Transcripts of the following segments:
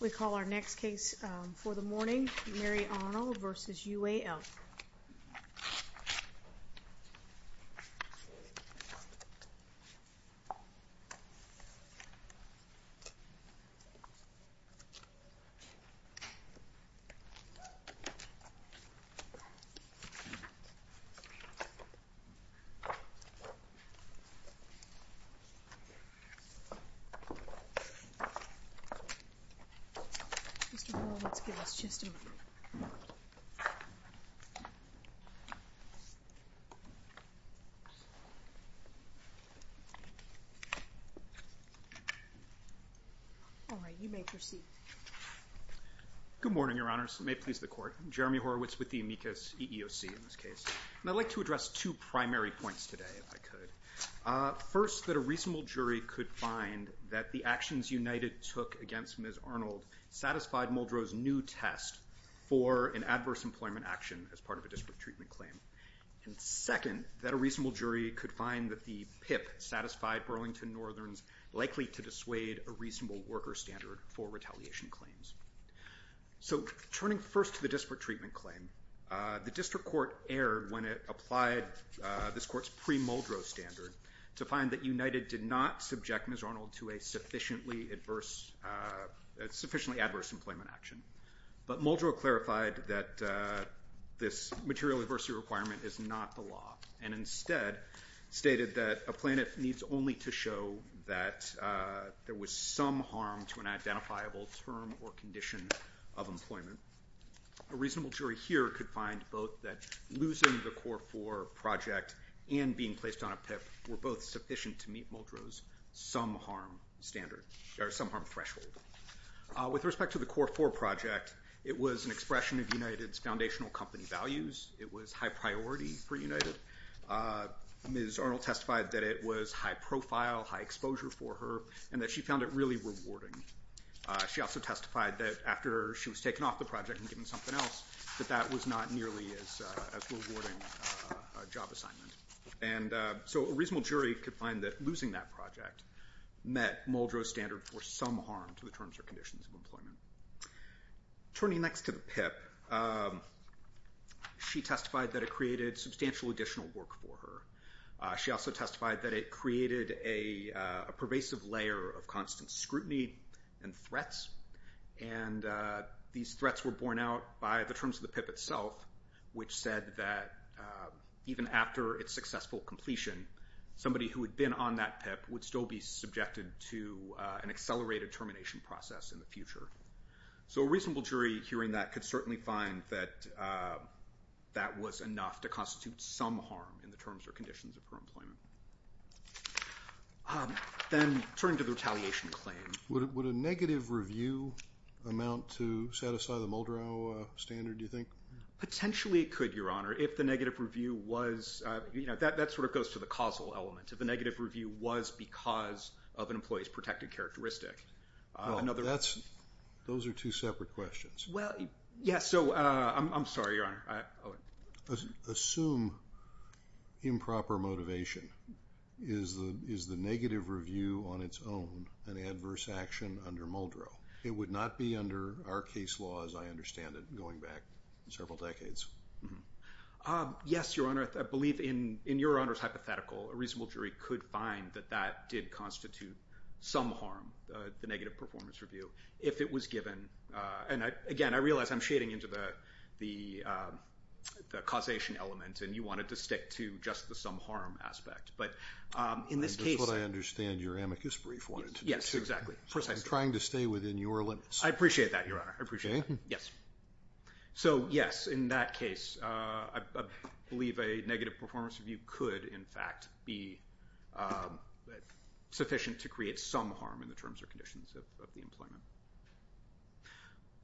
We call our next case for the morning, Mary Arnold v. UAL. Mr. Horowitz, give us just a moment. All right, you may proceed. Good morning, Your Honors. May it please the Court. Jeremy Horowitz with the amicus EEOC in this case. And I'd like to address two primary points today, if I could. First, that a reasonable jury could find that the actions United took against Ms. Arnold satisfied Muldrow's new test for an adverse employment action as part of a disparate treatment claim. And second, that a reasonable jury could find that the PIP satisfied Burlington Northern's likely to dissuade a reasonable worker standard for retaliation claims. So, turning first to the disparate treatment claim, the District Court erred when it applied this Court's pre-Muldrow standard to find that United did not subject Ms. Arnold to a sufficiently adverse employment action. But Muldrow clarified that this material adversity requirement is not the law, and instead stated that a plaintiff needs only to show that there was some harm to an identifiable term or condition of employment. A reasonable jury here could find both that losing the Core 4 project and being placed on a PIP were both sufficient to meet Muldrow's some harm standard, or some harm threshold. With respect to the Core 4 project, it was an expression of United's foundational company values. It was high priority for United. Ms. Arnold testified that it was high profile, high exposure for her, and that she found it really rewarding. She also testified that after she was taken off the project and given something else, that that was not nearly as rewarding a job assignment. So, a reasonable jury could find that losing that project met Muldrow's standard for some harm to the terms or conditions of employment. Turning next to the PIP, she testified that it created substantial additional work for her. She also testified that it created a pervasive layer of constant scrutiny and threats. These threats were borne out by the terms of the PIP itself, which said that even after its successful completion, somebody who had been on that PIP would still be subjected to an accelerated termination process in the future. So, a reasonable jury hearing that could certainly find that that was enough to constitute some harm in the terms or conditions of her employment. Then, turning to the retaliation claim. Would a negative review amount to set aside the Muldrow standard, do you think? Potentially, it could, Your Honor, if the negative review was, you know, that sort of goes to the causal element. If the negative review was because of an employee's protected characteristic. Well, that's, those are two separate questions. Well, yeah, so, I'm sorry, Your Honor. Assume improper motivation. Is the negative review on its own an adverse action under Muldrow? It would not be under our case law, as I understand it, going back several decades. Yes, Your Honor. I believe in Your Honor's hypothetical, a reasonable jury could find that that did constitute some harm, the negative performance review, if it was given. And, again, I realize I'm shading into the causation element, and you wanted to stick to just the some harm aspect. But, in this case. That's what I understand your amicus brief wanted to do. Yes, exactly. Precisely. Trying to stay within your limits. I appreciate that, Your Honor. I appreciate that. Okay. Yes. So, yes, in that case, I believe a negative performance review could, in fact, be sufficient to create some harm in the terms or conditions of the employment.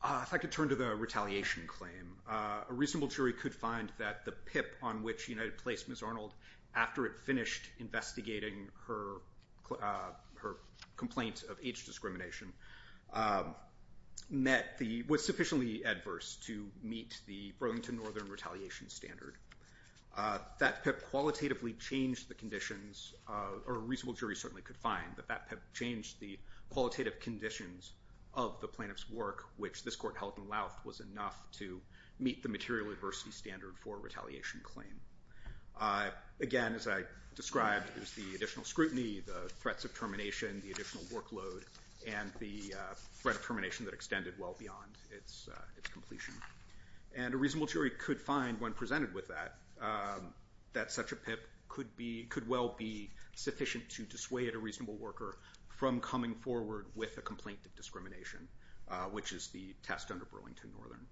I'd like to turn to the retaliation claim. A reasonable jury could find that the PIP on which United placed Ms. Arnold, after it finished investigating her complaint of age discrimination, was sufficiently adverse to meet the Burlington Northern retaliation standard. That PIP qualitatively changed the conditions, or a reasonable jury certainly could find, that that PIP changed the qualitative conditions of the plaintiff's work, which this court held in Louth was enough to meet the material adversity standard for a retaliation claim. Again, as I described, it was the additional scrutiny, the threats of termination, the additional workload, and the threat of termination that extended well beyond its completion. And a reasonable jury could find, when presented with that, that such a PIP could well be sufficient to dissuade a reasonable worker from coming forward with a complaint of discrimination, which is the test under Burlington Northern.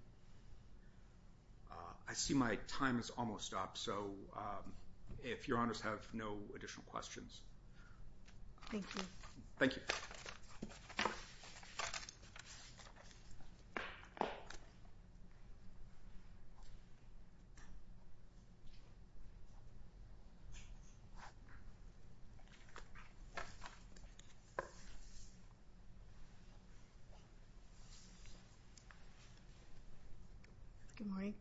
I see my time has almost stopped, so if Your Honors have no additional questions. Thank you. Thank you. Good morning.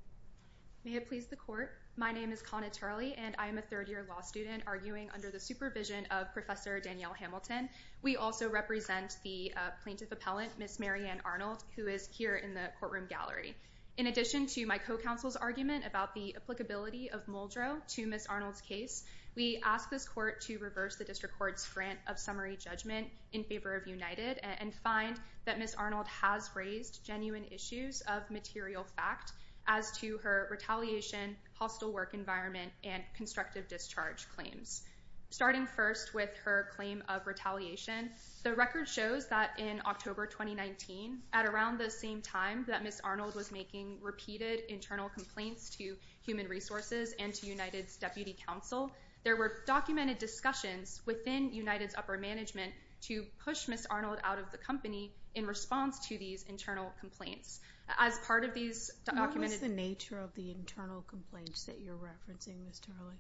May it please the Court. My name is Connie Tarley, and I am a third-year law student arguing under the supervision of Professor Danielle Hamilton. We also represent the plaintiff appellant, Ms. Mary Ann Arnold, who is here in the courtroom gallery. In addition to my co-counsel's argument about the applicability of Muldrow to Ms. Arnold's case, we ask this court to reverse the District Court's grant of summary judgment in favor of United, and find that Ms. Arnold has raised genuine issues of material fact as to her retaliation, hostile work environment, and constructive discharge claims. Starting first with her claim of retaliation, the record shows that in October 2019, at around the same time that Ms. Arnold was making repeated internal complaints to Human Resources and to United's deputy counsel, there were documented discussions within United's upper management to push Ms. Arnold out of the company in response to these internal complaints. As part of these documented— What is the nature of the internal complaints that you're referencing, Ms. Tarley?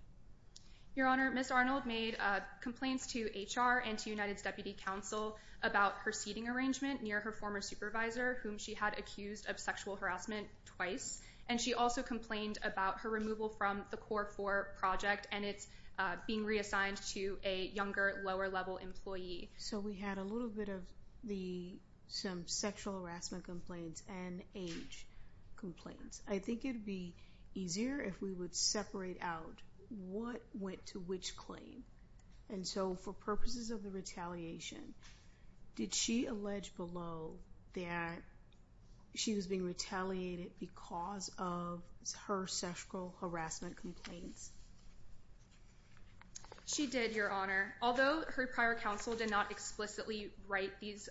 Your Honor, Ms. Arnold made complaints to HR and to United's deputy counsel about her seating arrangement near her former supervisor, whom she had accused of sexual harassment twice, and she also complained about her removal from the CORE4 project and its being reassigned to a younger, lower-level employee. So we had a little bit of some sexual harassment complaints and age complaints. I think it would be easier if we would separate out what went to which claim. And so for purposes of the retaliation, did she allege below that she was being retaliated because of her sexual harassment complaints? She did, Your Honor. Although her prior counsel did not explicitly write these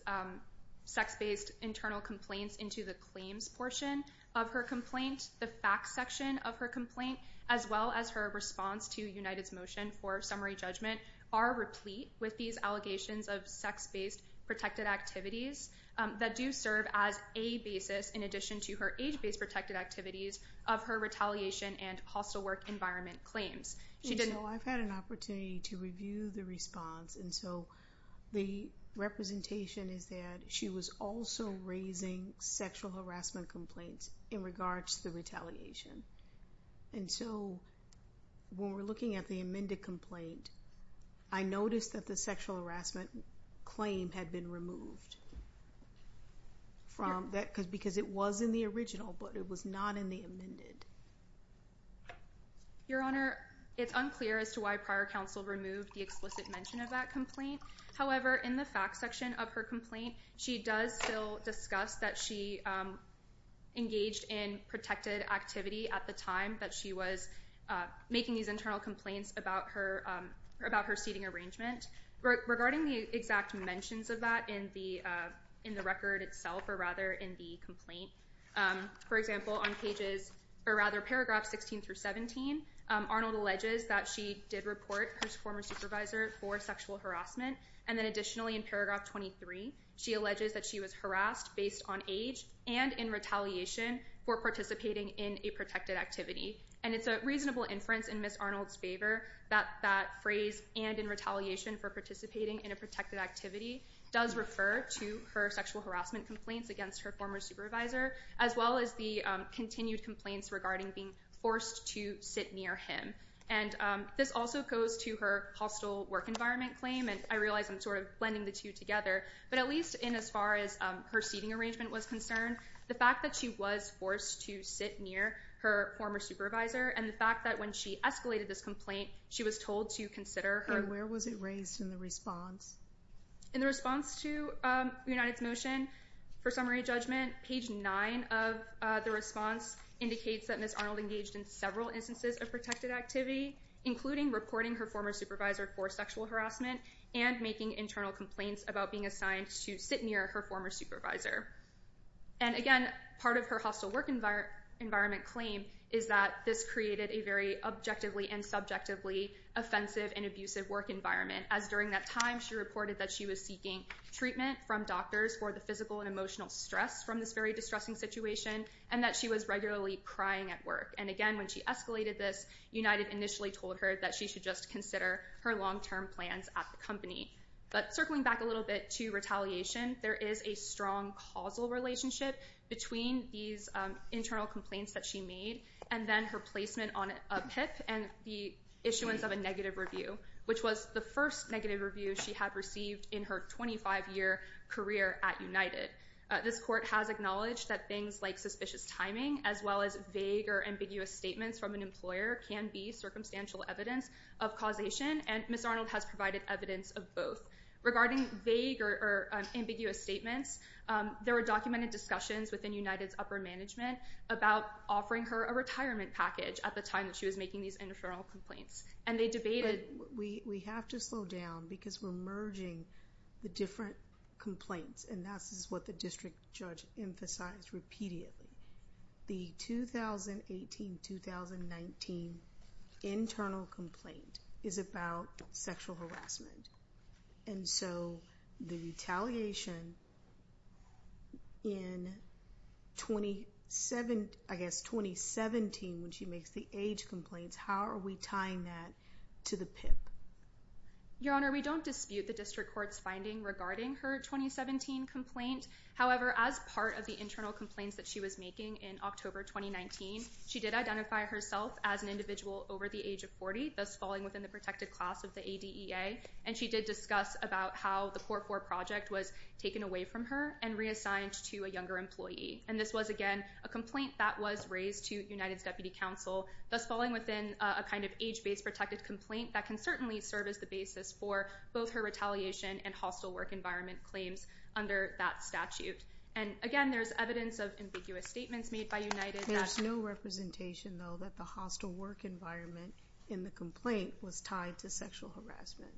sex-based internal complaints into the claims portion of her complaint, the facts section of her complaint, as well as her response to United's motion for summary judgment, are replete with these allegations of sex-based protected activities that do serve as a basis, in addition to her age-based protected activities, of her retaliation and hostile work environment claims. And so I've had an opportunity to review the response, and so the representation is that she was also raising sexual harassment complaints in regards to the retaliation. And so when we're looking at the amended complaint, I noticed that the sexual harassment claim had been removed because it was in the original but it was not in the amended. Your Honor, it's unclear as to why prior counsel removed the explicit mention of that complaint. However, in the facts section of her complaint, she does still discuss that she engaged in protected activity at the time that she was making these internal complaints about her seating arrangement. Regarding the exact mentions of that in the record itself, or rather in the complaint, for example, on paragraph 16 through 17, Arnold alleges that she did report her former supervisor for sexual harassment, and then additionally in paragraph 23, she alleges that she was harassed based on age and in retaliation for participating in a protected activity. And it's a reasonable inference in Ms. Arnold's favor that that phrase, and in retaliation for participating in a protected activity, does refer to her sexual harassment complaints against her former supervisor, as well as the continued complaints regarding being forced to sit near him. And this also goes to her hostile work environment claim, and I realize I'm sort of blending the two together, but at least in as far as her seating arrangement was concerned, the fact that she was forced to sit near her former supervisor and the fact that when she escalated this complaint, she was told to consider her— And where was it raised in the response? In the response to United's motion, for summary judgment, page 9 of the response indicates that Ms. Arnold engaged in several instances of protected activity, including reporting her former supervisor for sexual harassment and making internal complaints about being assigned to sit near her former supervisor. And again, part of her hostile work environment claim is that this created a very objectively and subjectively offensive and abusive work environment, as during that time she reported that she was seeking treatment from doctors for the physical and emotional stress from this very distressing situation and that she was regularly crying at work. And again, when she escalated this, United initially told her that she should just consider her long-term plans at the company. But circling back a little bit to retaliation, there is a strong causal relationship between these internal complaints that she made and then her placement on a PIP and the issuance of a negative review, which was the first negative review she had received in her 25-year career at United. This court has acknowledged that things like suspicious timing as well as vague or ambiguous statements from an employer can be circumstantial evidence of causation, and Ms. Arnold has provided evidence of both. Regarding vague or ambiguous statements, there were documented discussions within United's upper management about offering her a retirement package at the time that she was making these internal complaints. We have to slow down because we're merging the different complaints, and this is what the district judge emphasized repeatedly. The 2018-2019 internal complaint is about sexual harassment, and so the retaliation in 2017 when she makes the age complaints, how are we tying that to the PIP? Your Honor, we don't dispute the district court's finding regarding her 2017 complaint. However, as part of the internal complaints that she was making in October 2019, she did identify herself as an individual over the age of 40, thus falling within the protected class of the ADEA, and she did discuss about how the 4-4 project was taken away from her and reassigned to a younger employee. And this was, again, a complaint that was raised to United's deputy counsel, thus falling within a kind of age-based protected complaint that can certainly serve as the basis for both her retaliation and hostile work environment claims under that statute. And, again, there's evidence of ambiguous statements made by United. There's no representation, though, that the hostile work environment in the complaint was tied to sexual harassment.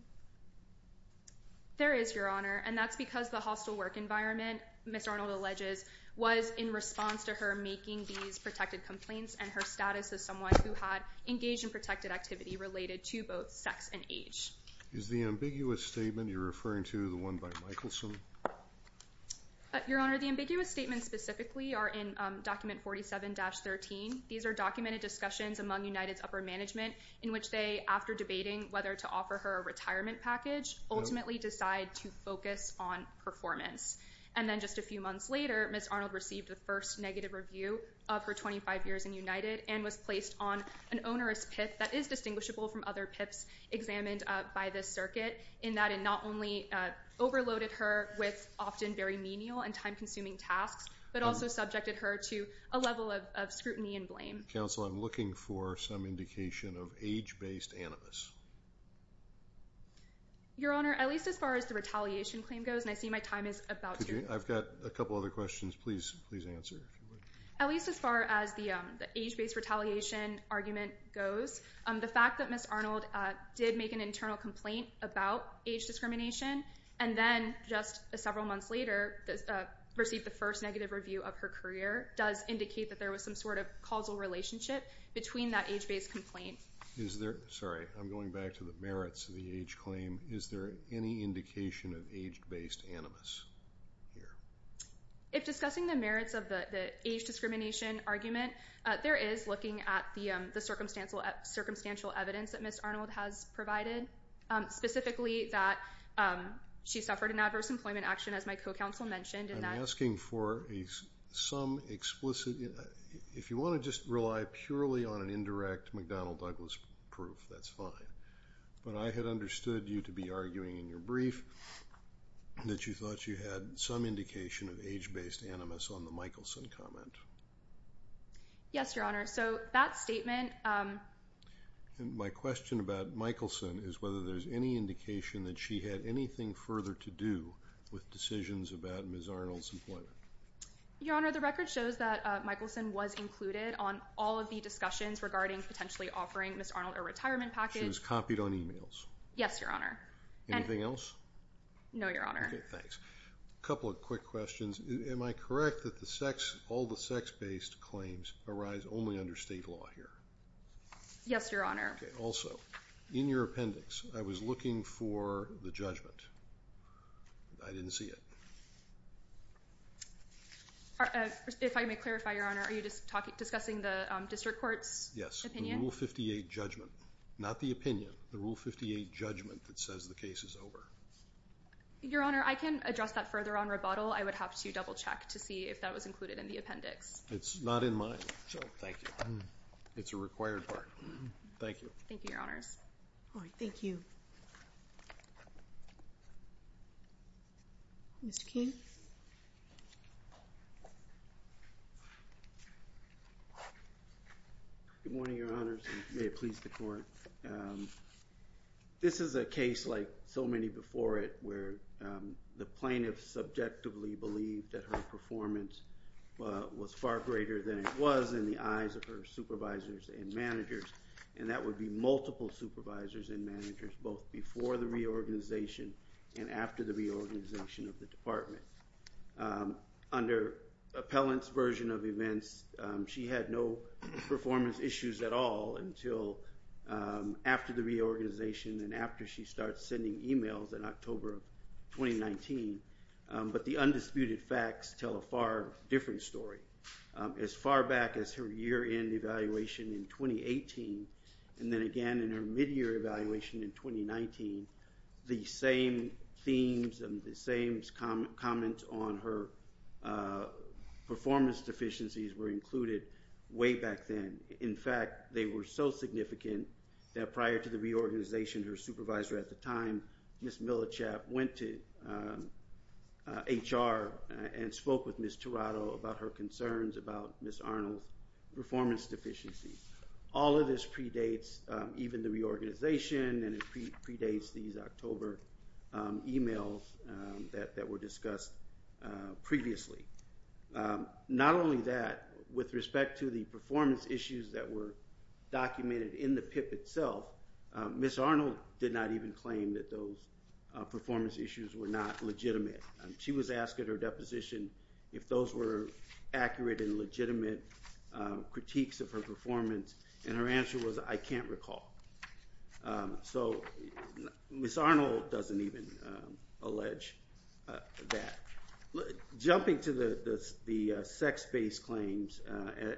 There is, Your Honor, and that's because the hostile work environment, Ms. Arnold alleges, was in response to her making these protected complaints and her status as someone who had engaged in protected activity related to both sex and age. Is the ambiguous statement you're referring to the one by Michelson? Your Honor, the ambiguous statements specifically are in Document 47-13. These are documented discussions among United's upper management in which they, after debating whether to offer her a retirement package, ultimately decide to focus on performance. And then just a few months later, Ms. Arnold received the first negative review of her 25 years in United and was placed on an onerous PIP that is distinguishable from other PIPs examined by this circuit in that it not only overloaded her with often very menial and time-consuming tasks but also subjected her to a level of scrutiny and blame. Counsel, I'm looking for some indication of age-based animus. Your Honor, at least as far as the retaliation claim goes, and I see my time is about to run out. I've got a couple other questions. Please answer. At least as far as the age-based retaliation argument goes, the fact that Ms. Arnold did make an internal complaint about age discrimination and then just several months later received the first negative review of her career does indicate that there was some sort of causal relationship between that age-based complaint. Sorry, I'm going back to the merits of the age claim. Is there any indication of age-based animus here? If discussing the merits of the age discrimination argument, there is looking at the circumstantial evidence that Ms. Arnold has provided, specifically that she suffered an adverse employment action, as my co-counsel mentioned. I'm asking for some explicit. If you want to just rely purely on an indirect McDonnell Douglas proof, that's fine. But I had understood you to be arguing in your brief that you thought you had some indication of age-based animus on the Michelson comment. Yes, Your Honor. So that statement. My question about Michelson is whether there's any indication that she had anything further to do with decisions about Ms. Arnold's employment. Your Honor, the record shows that Michelson was included on all of the discussions regarding potentially offering Ms. Arnold a retirement package. And that she was copied on e-mails? Yes, Your Honor. Anything else? No, Your Honor. Okay, thanks. A couple of quick questions. Am I correct that all the sex-based claims arise only under state law here? Yes, Your Honor. Okay. Also, in your appendix, I was looking for the judgment. I didn't see it. If I may clarify, Your Honor, are you discussing the district court's opinion? Yes, the Rule 58 judgment. Not the opinion, the Rule 58 judgment that says the case is over. Your Honor, I can address that further on rebuttal. I would have to double-check to see if that was included in the appendix. It's not in mine, so thank you. It's a required part. Thank you. Thank you, Your Honors. All right, thank you. Mr. King? Good morning, Your Honors, and may it please the Court. This is a case like so many before it where the plaintiff subjectively believed that her performance was far greater than it was in the eyes of her supervisors and managers, and that would be multiple supervisors and managers, both before the reorganization and after the reorganization of the department. Under Appellant's version of events, she had no performance issues at all until after the reorganization and after she started sending emails in October of 2019. But the undisputed facts tell a far different story. As far back as her year-end evaluation in 2018, and then again in her mid-year evaluation in 2019, the same themes and the same comments on her performance deficiencies were included way back then. In fact, they were so significant that prior to the reorganization, her supervisor at the time, Ms. Millichap, went to HR and spoke with Ms. Tirado about her concerns about Ms. Arnold's performance deficiencies. All of this predates even the reorganization and it predates these October emails that were discussed previously. Not only that, with respect to the performance issues that were documented in the PIP itself, Ms. Arnold did not even claim that those performance issues were not legitimate. She was asked at her deposition if those were accurate and legitimate critiques of her performance, and her answer was, I can't recall. So Ms. Arnold doesn't even allege that. Jumping to the sex-based claims,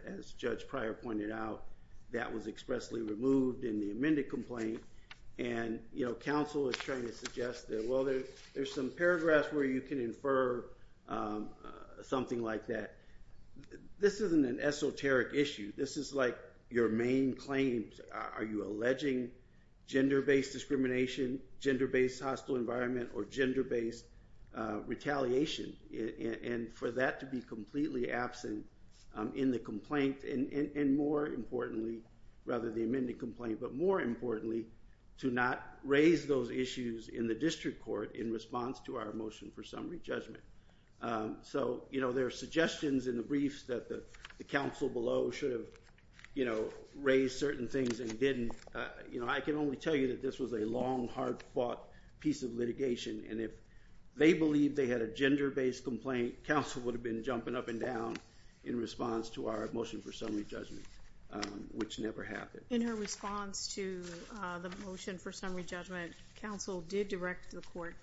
as Judge Pryor pointed out, that was expressly removed in the amended complaint, and counsel is trying to suggest that, well, there's some paragraphs where you can infer something like that. This isn't an esoteric issue. This is like your main claims. Are you alleging gender-based discrimination, gender-based hostile environment, or gender-based retaliation? And for that to be completely absent in the complaint, and more importantly, rather the amended complaint, but more importantly, to not raise those issues in the district court in response to our motion for summary judgment. So there are suggestions in the briefs that the counsel below should have raised certain things and didn't. I can only tell you that this was a long, hard-fought piece of litigation, and if they believed they had a gender-based complaint, counsel would have been jumping up and down in response to our motion for summary judgment, which never happened. In her response to the motion for summary judgment, counsel did direct the court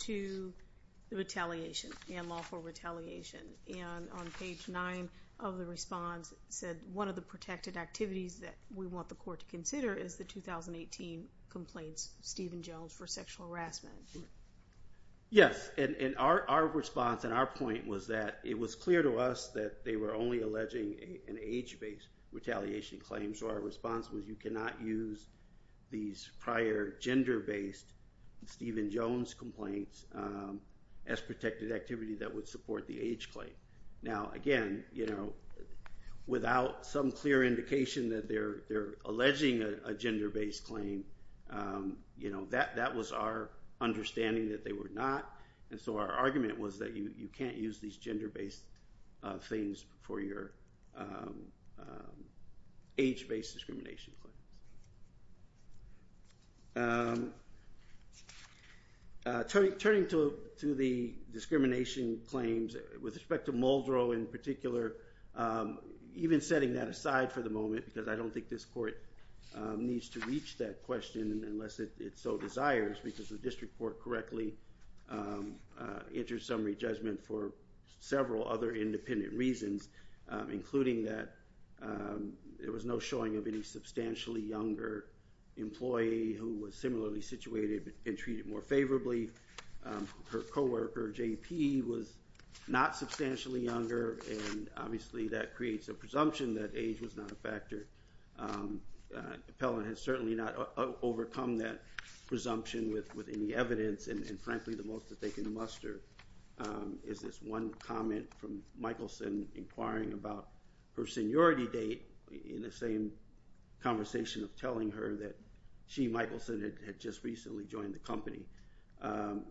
to retaliation and lawful retaliation. And on page 9 of the response, it said, one of the protected activities that we want the court to consider is the 2018 complaints of Stephen Jones for sexual harassment. Yes, and our response and our point was that it was clear to us that they were only alleging an age-based retaliation claim. So our response was you cannot use these prior gender-based Stephen Jones complaints as protected activity that would support the age claim. Now, again, without some clear indication that they're alleging a gender-based claim, that was our understanding that they were not, and so our argument was that you can't use these gender-based things for your age-based discrimination claims. Turning to the discrimination claims, with respect to Muldrow in particular, even setting that aside for the moment, because I don't think this court needs to reach that question unless it so desires, because the district court correctly entered summary judgment for several other independent reasons, including that there was no showing of any substantially younger employee who was similarly situated and treated more favorably. Her coworker, JP, was not substantially younger, and obviously that creates a presumption that age was not a factor. Appellant has certainly not overcome that presumption with any evidence, and frankly the most that they can muster is this one comment from Michelson inquiring about her seniority date in the same conversation of telling her that she, Michelson, had just recently joined the company.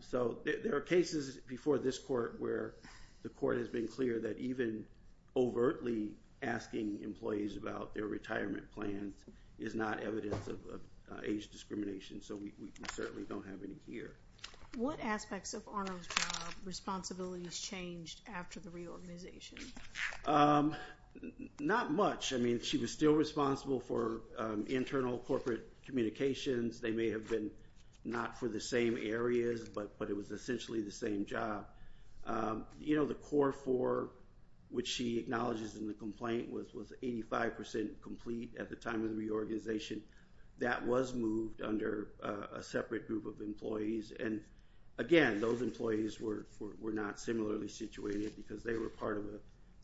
So there are cases before this court where the court has been clear that even overtly asking employees about their retirement plans is not evidence of age discrimination, so we certainly don't have any here. What aspects of Arnold's job responsibilities changed after the reorganization? Not much. I mean, she was still responsible for internal corporate communications. They may have been not for the same areas, but it was essentially the same job. You know, the core four, which she acknowledges in the complaint, was 85% complete at the time of the reorganization. That was moved under a separate group of employees, and again, those employees were not similarly situated because they were part of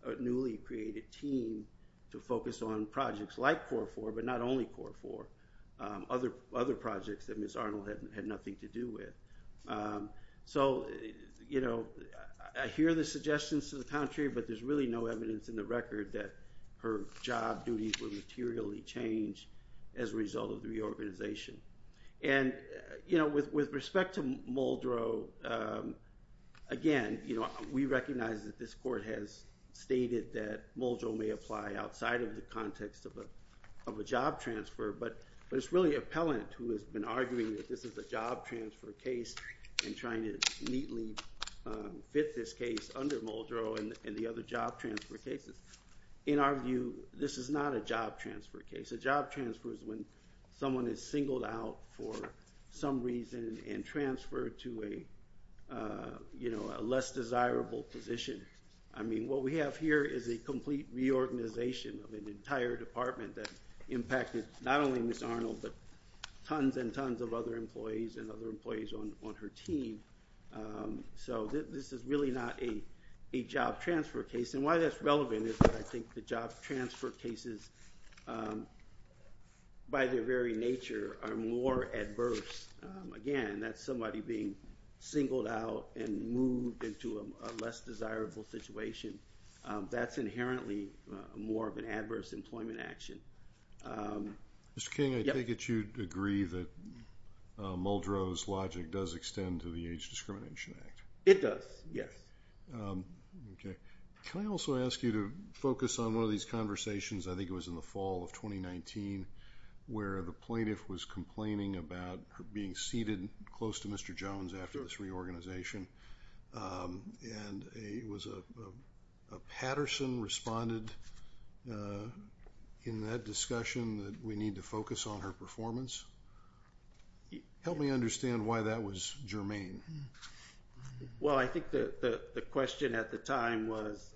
a newly created team to focus on projects like core four, but not only core four. Other projects that Ms. Arnold had nothing to do with. So, you know, I hear the suggestions to the contrary, but there's really no evidence in the record that her job duties were materially changed as a result of the reorganization. And, you know, with respect to Muldrow, again, you know, we recognize that this court has stated that Muldrow may apply outside of the context of a job transfer, but it's really Appellant who has been arguing that this is a job transfer case and trying to neatly fit this case under Muldrow and the other job transfer cases. In our view, this is not a job transfer case. A job transfer is when someone is singled out for some reason and transferred to a less desirable position. I mean, what we have here is a complete reorganization of an entire department that impacted not only Ms. Arnold, but tons and tons of other employees and other employees on her team. So this is really not a job transfer case. And why that's relevant is that I think the job transfer cases, by their very nature, are more adverse. Again, that's somebody being singled out and moved into a less desirable situation. That's inherently more of an adverse employment action. Mr. King, I take it you'd agree that Muldrow's logic does extend to the Age Discrimination Act. It does, yes. Can I also ask you to focus on one of these conversations, I think it was in the fall of 2019, where the plaintiff was complaining about her being seated close to Mr. Jones after this reorganization, and it was a Patterson responded in that discussion that we need to focus on her performance. Help me understand why that was germane. Well, I think the question at the time was,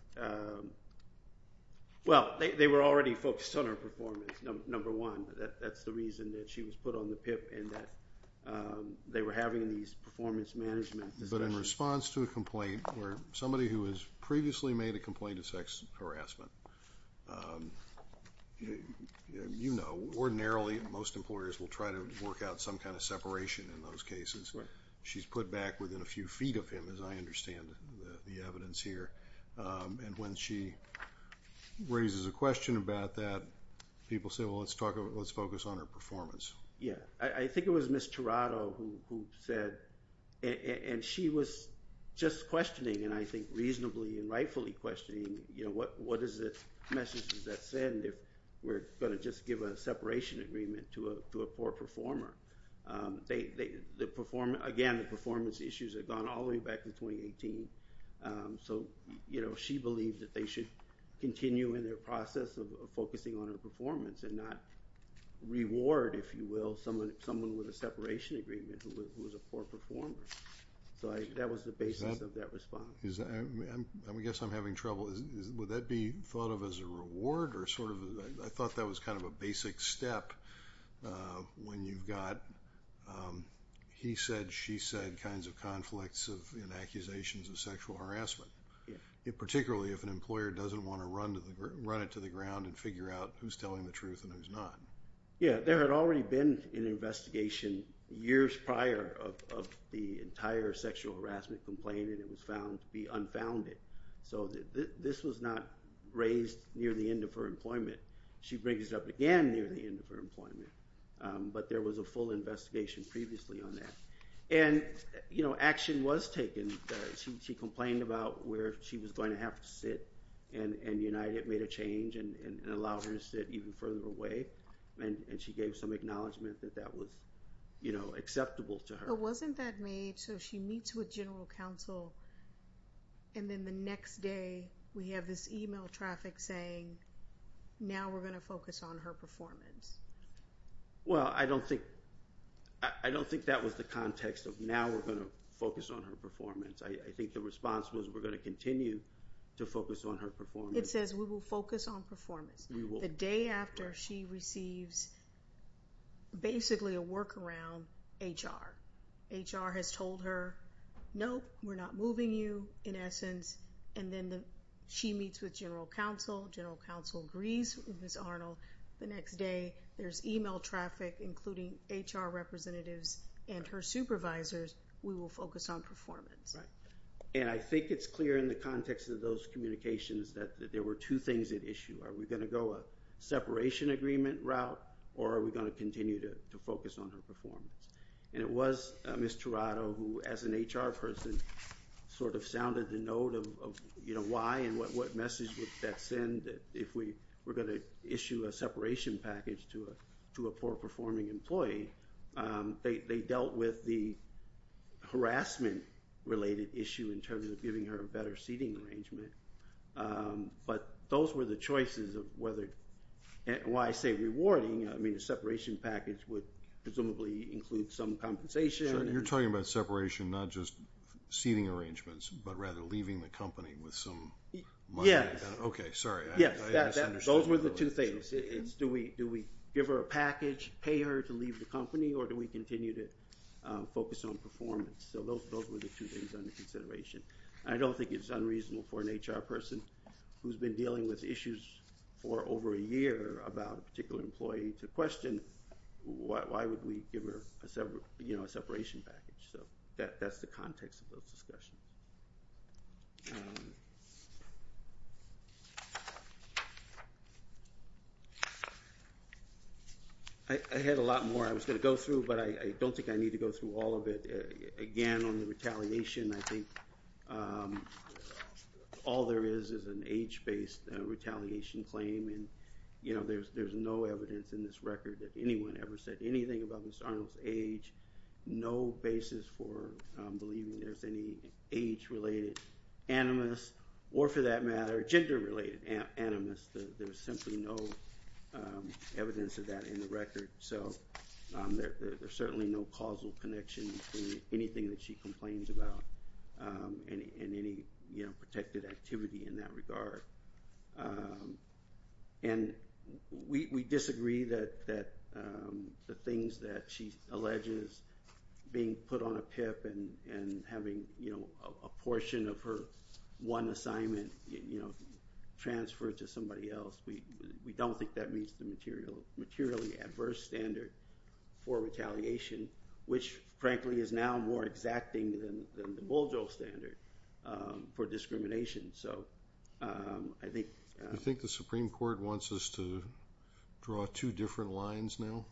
well, they were already focused on her performance, number one. That's the reason that she was put on the PIP and that they were having these performance management discussions. But in response to a complaint where somebody who has previously made a complaint of sex harassment, you know, ordinarily most employers will try to work out some kind of separation in those cases. She's put back within a few feet of him, as I understand the evidence here. And when she raises a question about that, people say, well, let's focus on her performance. Yeah, I think it was Ms. Tirado who said, and she was just questioning, and I think reasonably and rightfully questioning, you know, what is the message does that send if we're going to just give a separation agreement to a poor performer. Again, the performance issues have gone all the way back to 2018. So, you know, she believes that they should continue in their process of focusing on her performance and not reward, if you will, someone with a separation agreement who is a poor performer. So that was the basis of that response. I guess I'm having trouble. Would that be thought of as a reward? I thought that was kind of a basic step when you've got he said, she said kinds of conflicts and accusations of sexual harassment, particularly if an employer doesn't want to run it to the ground and figure out who's telling the truth and who's not. Yeah, there had already been an investigation years prior of the entire sexual harassment complaint, and it was found to be unfounded. So this was not raised near the end of her employment. She brings it up again near the end of her employment, but there was a full investigation previously on that. And, you know, action was taken. She complained about where she was going to have to sit, and United made a change and allowed her to sit even further away, and she gave some acknowledgment that that was, you know, acceptable to her. But wasn't that made so she meets with general counsel, and then the next day we have this email traffic saying, now we're going to focus on her performance? Well, I don't think that was the context of, now we're going to focus on her performance. I think the response was we're going to continue to focus on her performance. It says we will focus on performance. The day after she receives basically a workaround, HR. HR has told her, nope, we're not moving you, in essence, and then she meets with general counsel. General counsel agrees with Ms. Arnold. The next day there's email traffic, including HR representatives and her supervisors, we will focus on performance. And I think it's clear in the context of those communications that there were two things at issue. Are we going to go a separation agreement route, or are we going to continue to focus on her performance? And it was Ms. Tirado who, as an HR person, sort of sounded the note of why and what message would that send if we were going to issue a separation package to a poor-performing employee. They dealt with the harassment-related issue in terms of giving her a better seating arrangement. But those were the choices of whether, and when I say rewarding, I mean a separation package would presumably include some compensation. So you're talking about separation, not just seating arrangements, but rather leaving the company with some money. Okay, sorry, I misunderstood. Those were the two things. Do we give her a package, pay her to leave the company, or do we continue to focus on performance? So those were the two things under consideration. I don't think it's unreasonable for an HR person who's been dealing with issues for over a year about a particular employee to question why would we give her a separation package. So that's the context of those discussions. I had a lot more I was going to go through, but I don't think I need to go through all of it. Again, on the retaliation, I think all there is is an age-based retaliation claim, and there's no evidence in this record that anyone ever said anything about Ms. Arnold's age, no basis for believing there's any age-related animus, or for that matter, gender-related animus. There's simply no evidence of that in the record. There's certainly no causal connection between anything that she complains about and any protected activity in that regard. We disagree that the things that she alleges, being put on a PIP and having a portion of her one assignment transferred to somebody else, we don't think that meets the materially adverse standard for retaliation, which, frankly, is now more exacting than the Bolger standard for discrimination. I think the Supreme Court wants us to draw two different lines now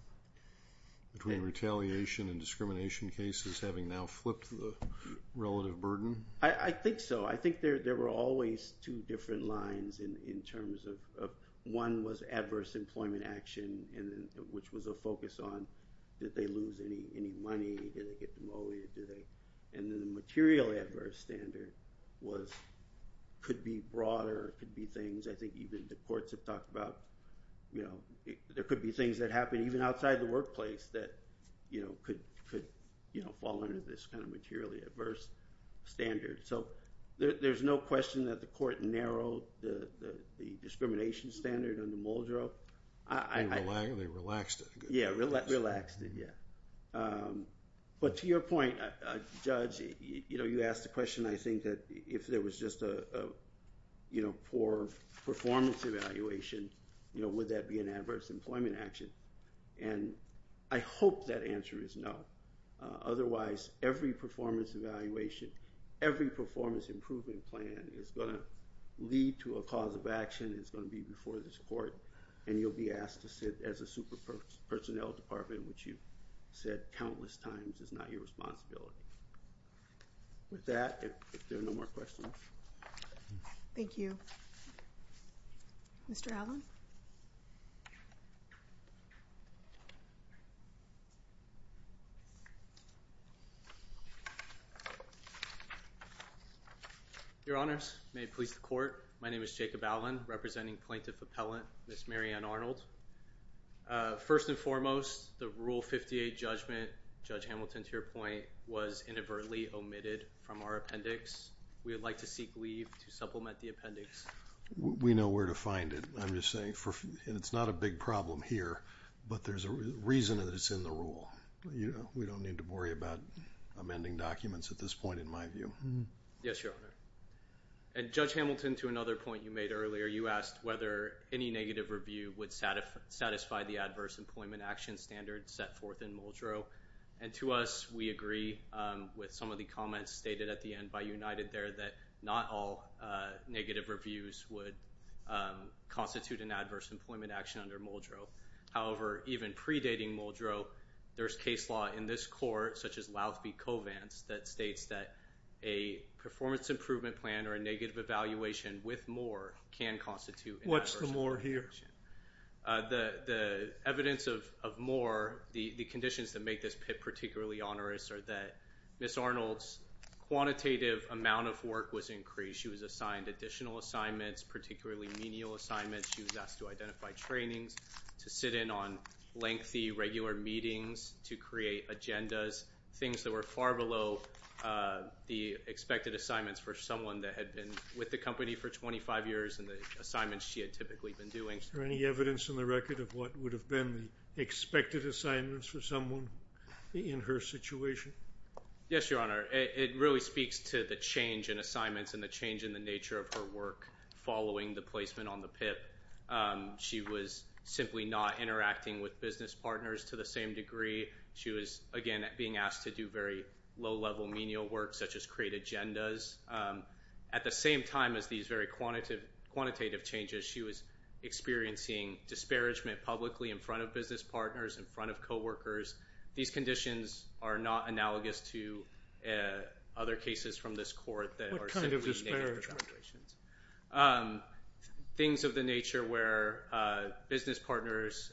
between retaliation and discrimination cases, having now flipped the relative burden. I think so. I think there were always two different lines in terms of, one was adverse employment action, which was a focus on, did they lose any money, did they get demoted, and then the material adverse standard could be broader, could be things, I think even the courts have talked about, there could be things that happen even outside the workplace that could fall under this kind of materially adverse standard. So there's no question that the court narrowed the discrimination standard under Muldrow. They relaxed it. Yeah, relaxed it, yeah. But to your point, Judge, you asked the question, I think that if there was just a poor performance evaluation, would that be an adverse employment action? And I hope that answer is no. Otherwise, every performance evaluation, every performance improvement plan is going to lead to a cause of action, is going to be before this court, and you'll be asked to sit as a super personnel department, which you've said countless times is not your responsibility. With that, if there are no more questions. Thank you. Mr. Allen? Your Honors, may it please the court. My name is Jacob Allen, representing Plaintiff Appellant Ms. Mary Ann Arnold. First and foremost, the Rule 58 judgment, Judge Hamilton, to your point, was inadvertently omitted from our appendix. We would like to seek leave to supplement the appendix. We know where to find it. I'm just saying, and it's not a big problem here, but there's a reason that it's in the rule. We don't need to worry about amending documents at this point, in my view. Yes, Your Honor. And Judge Hamilton, to another point you made earlier, you asked whether any negative review would satisfy the adverse employment action standard set forth in Muldrow. And to us, we agree with some of the comments stated at the end by United there that not all negative reviews would constitute an adverse employment action under Muldrow. However, even predating Muldrow, there's case law in this court, such as Louthby Covance, that states that a performance improvement plan or a negative evaluation with Moore can constitute an adverse employment action. What's the Moore here? The evidence of Moore, the conditions that make this PIP particularly onerous, are that Ms. Arnold's quantitative amount of work was increased. She was assigned additional assignments, particularly menial assignments. She was asked to identify trainings, to sit in on lengthy regular meetings, to create agendas, things that were far below the expected assignments for someone that had been with the company for 25 years and the assignments she had typically been doing. Is there any evidence in the record of what would have been the expected assignments for someone in her situation? Yes, Your Honor. It really speaks to the change in assignments and the change in the nature of her work following the placement on the PIP. She was simply not interacting with business partners to the same degree. She was, again, being asked to do very low-level menial work, such as create agendas. At the same time as these very quantitative changes, she was experiencing disparagement publicly in front of business partners, in front of coworkers. These conditions are not analogous to other cases from this court that are simply negative evaluations. Things of the nature where business partners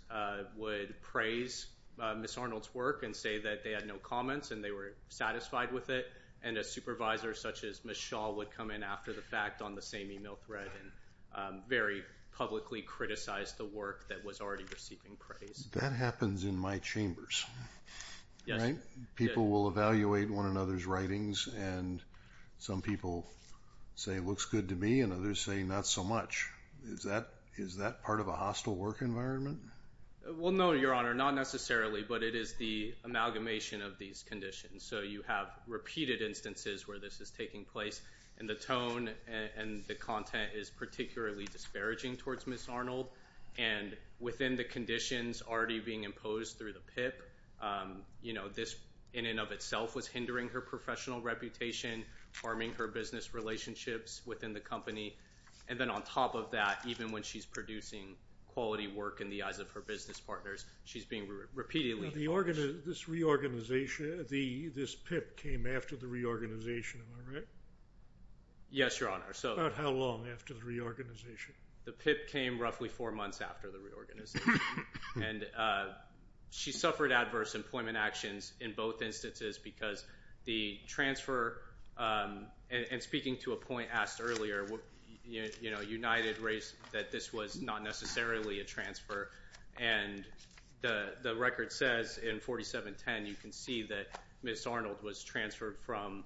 would praise Ms. Arnold's work and say that they had no comments and they were satisfied with it, and a supervisor such as Ms. Shaw would come in after the fact on the same email thread and very publicly criticize the work that was already receiving praise. That happens in my chambers. Yes. People will evaluate one another's writings, and some people say it looks good to me and others say not so much. Is that part of a hostile work environment? Well, no, Your Honor, not necessarily, but it is the amalgamation of these conditions. So you have repeated instances where this is taking place, and the tone and the content is particularly disparaging towards Ms. Arnold. And within the conditions already being imposed through the PIP, this in and of itself was hindering her professional reputation, harming her business relationships within the company. And then on top of that, even when she's producing quality work in the eyes of her business partners, she's being repeatedly forced. This PIP came after the reorganization, am I right? Yes, Your Honor. About how long after the reorganization? The PIP came roughly four months after the reorganization. And she suffered adverse employment actions in both instances because the transfer and speaking to a point asked earlier, you know, United raised that this was not necessarily a transfer. And the record says in 4710 you can see that Ms. Arnold was transferred from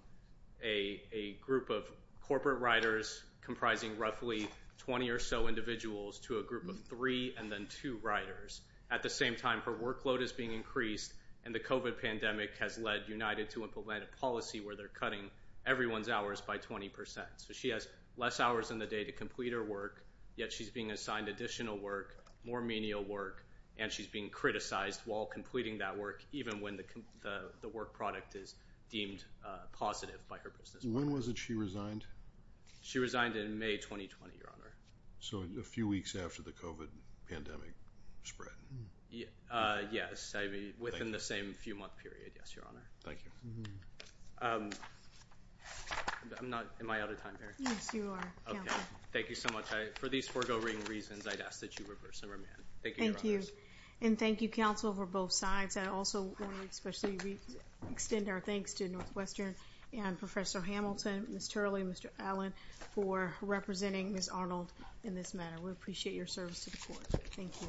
a group of corporate writers comprising roughly 20 or so individuals to a group of three and then two writers. At the same time, her workload is being increased, and the COVID pandemic has led United to implement a policy where they're cutting everyone's hours by 20%. So she has less hours in the day to complete her work, yet she's being assigned additional work, more menial work, and she's being criticized while completing that work, even when the work product is deemed positive by her business partners. When was it she resigned? She resigned in May 2020, Your Honor. So a few weeks after the COVID pandemic spread. Yes, within the same few-month period, yes, Your Honor. Thank you. Am I out of time here? Yes, you are, Counselor. Thank you so much. For these foregoing reasons, I'd ask that you reverse and remand. Thank you, Your Honors. Thank you. And thank you, Counselor, for both sides. I also want to especially extend our thanks to Northwestern and Professor Hamilton, Ms. Turley, and Mr. Allen for representing Ms. Arnold in this matter. We appreciate your service to the court. Thank you.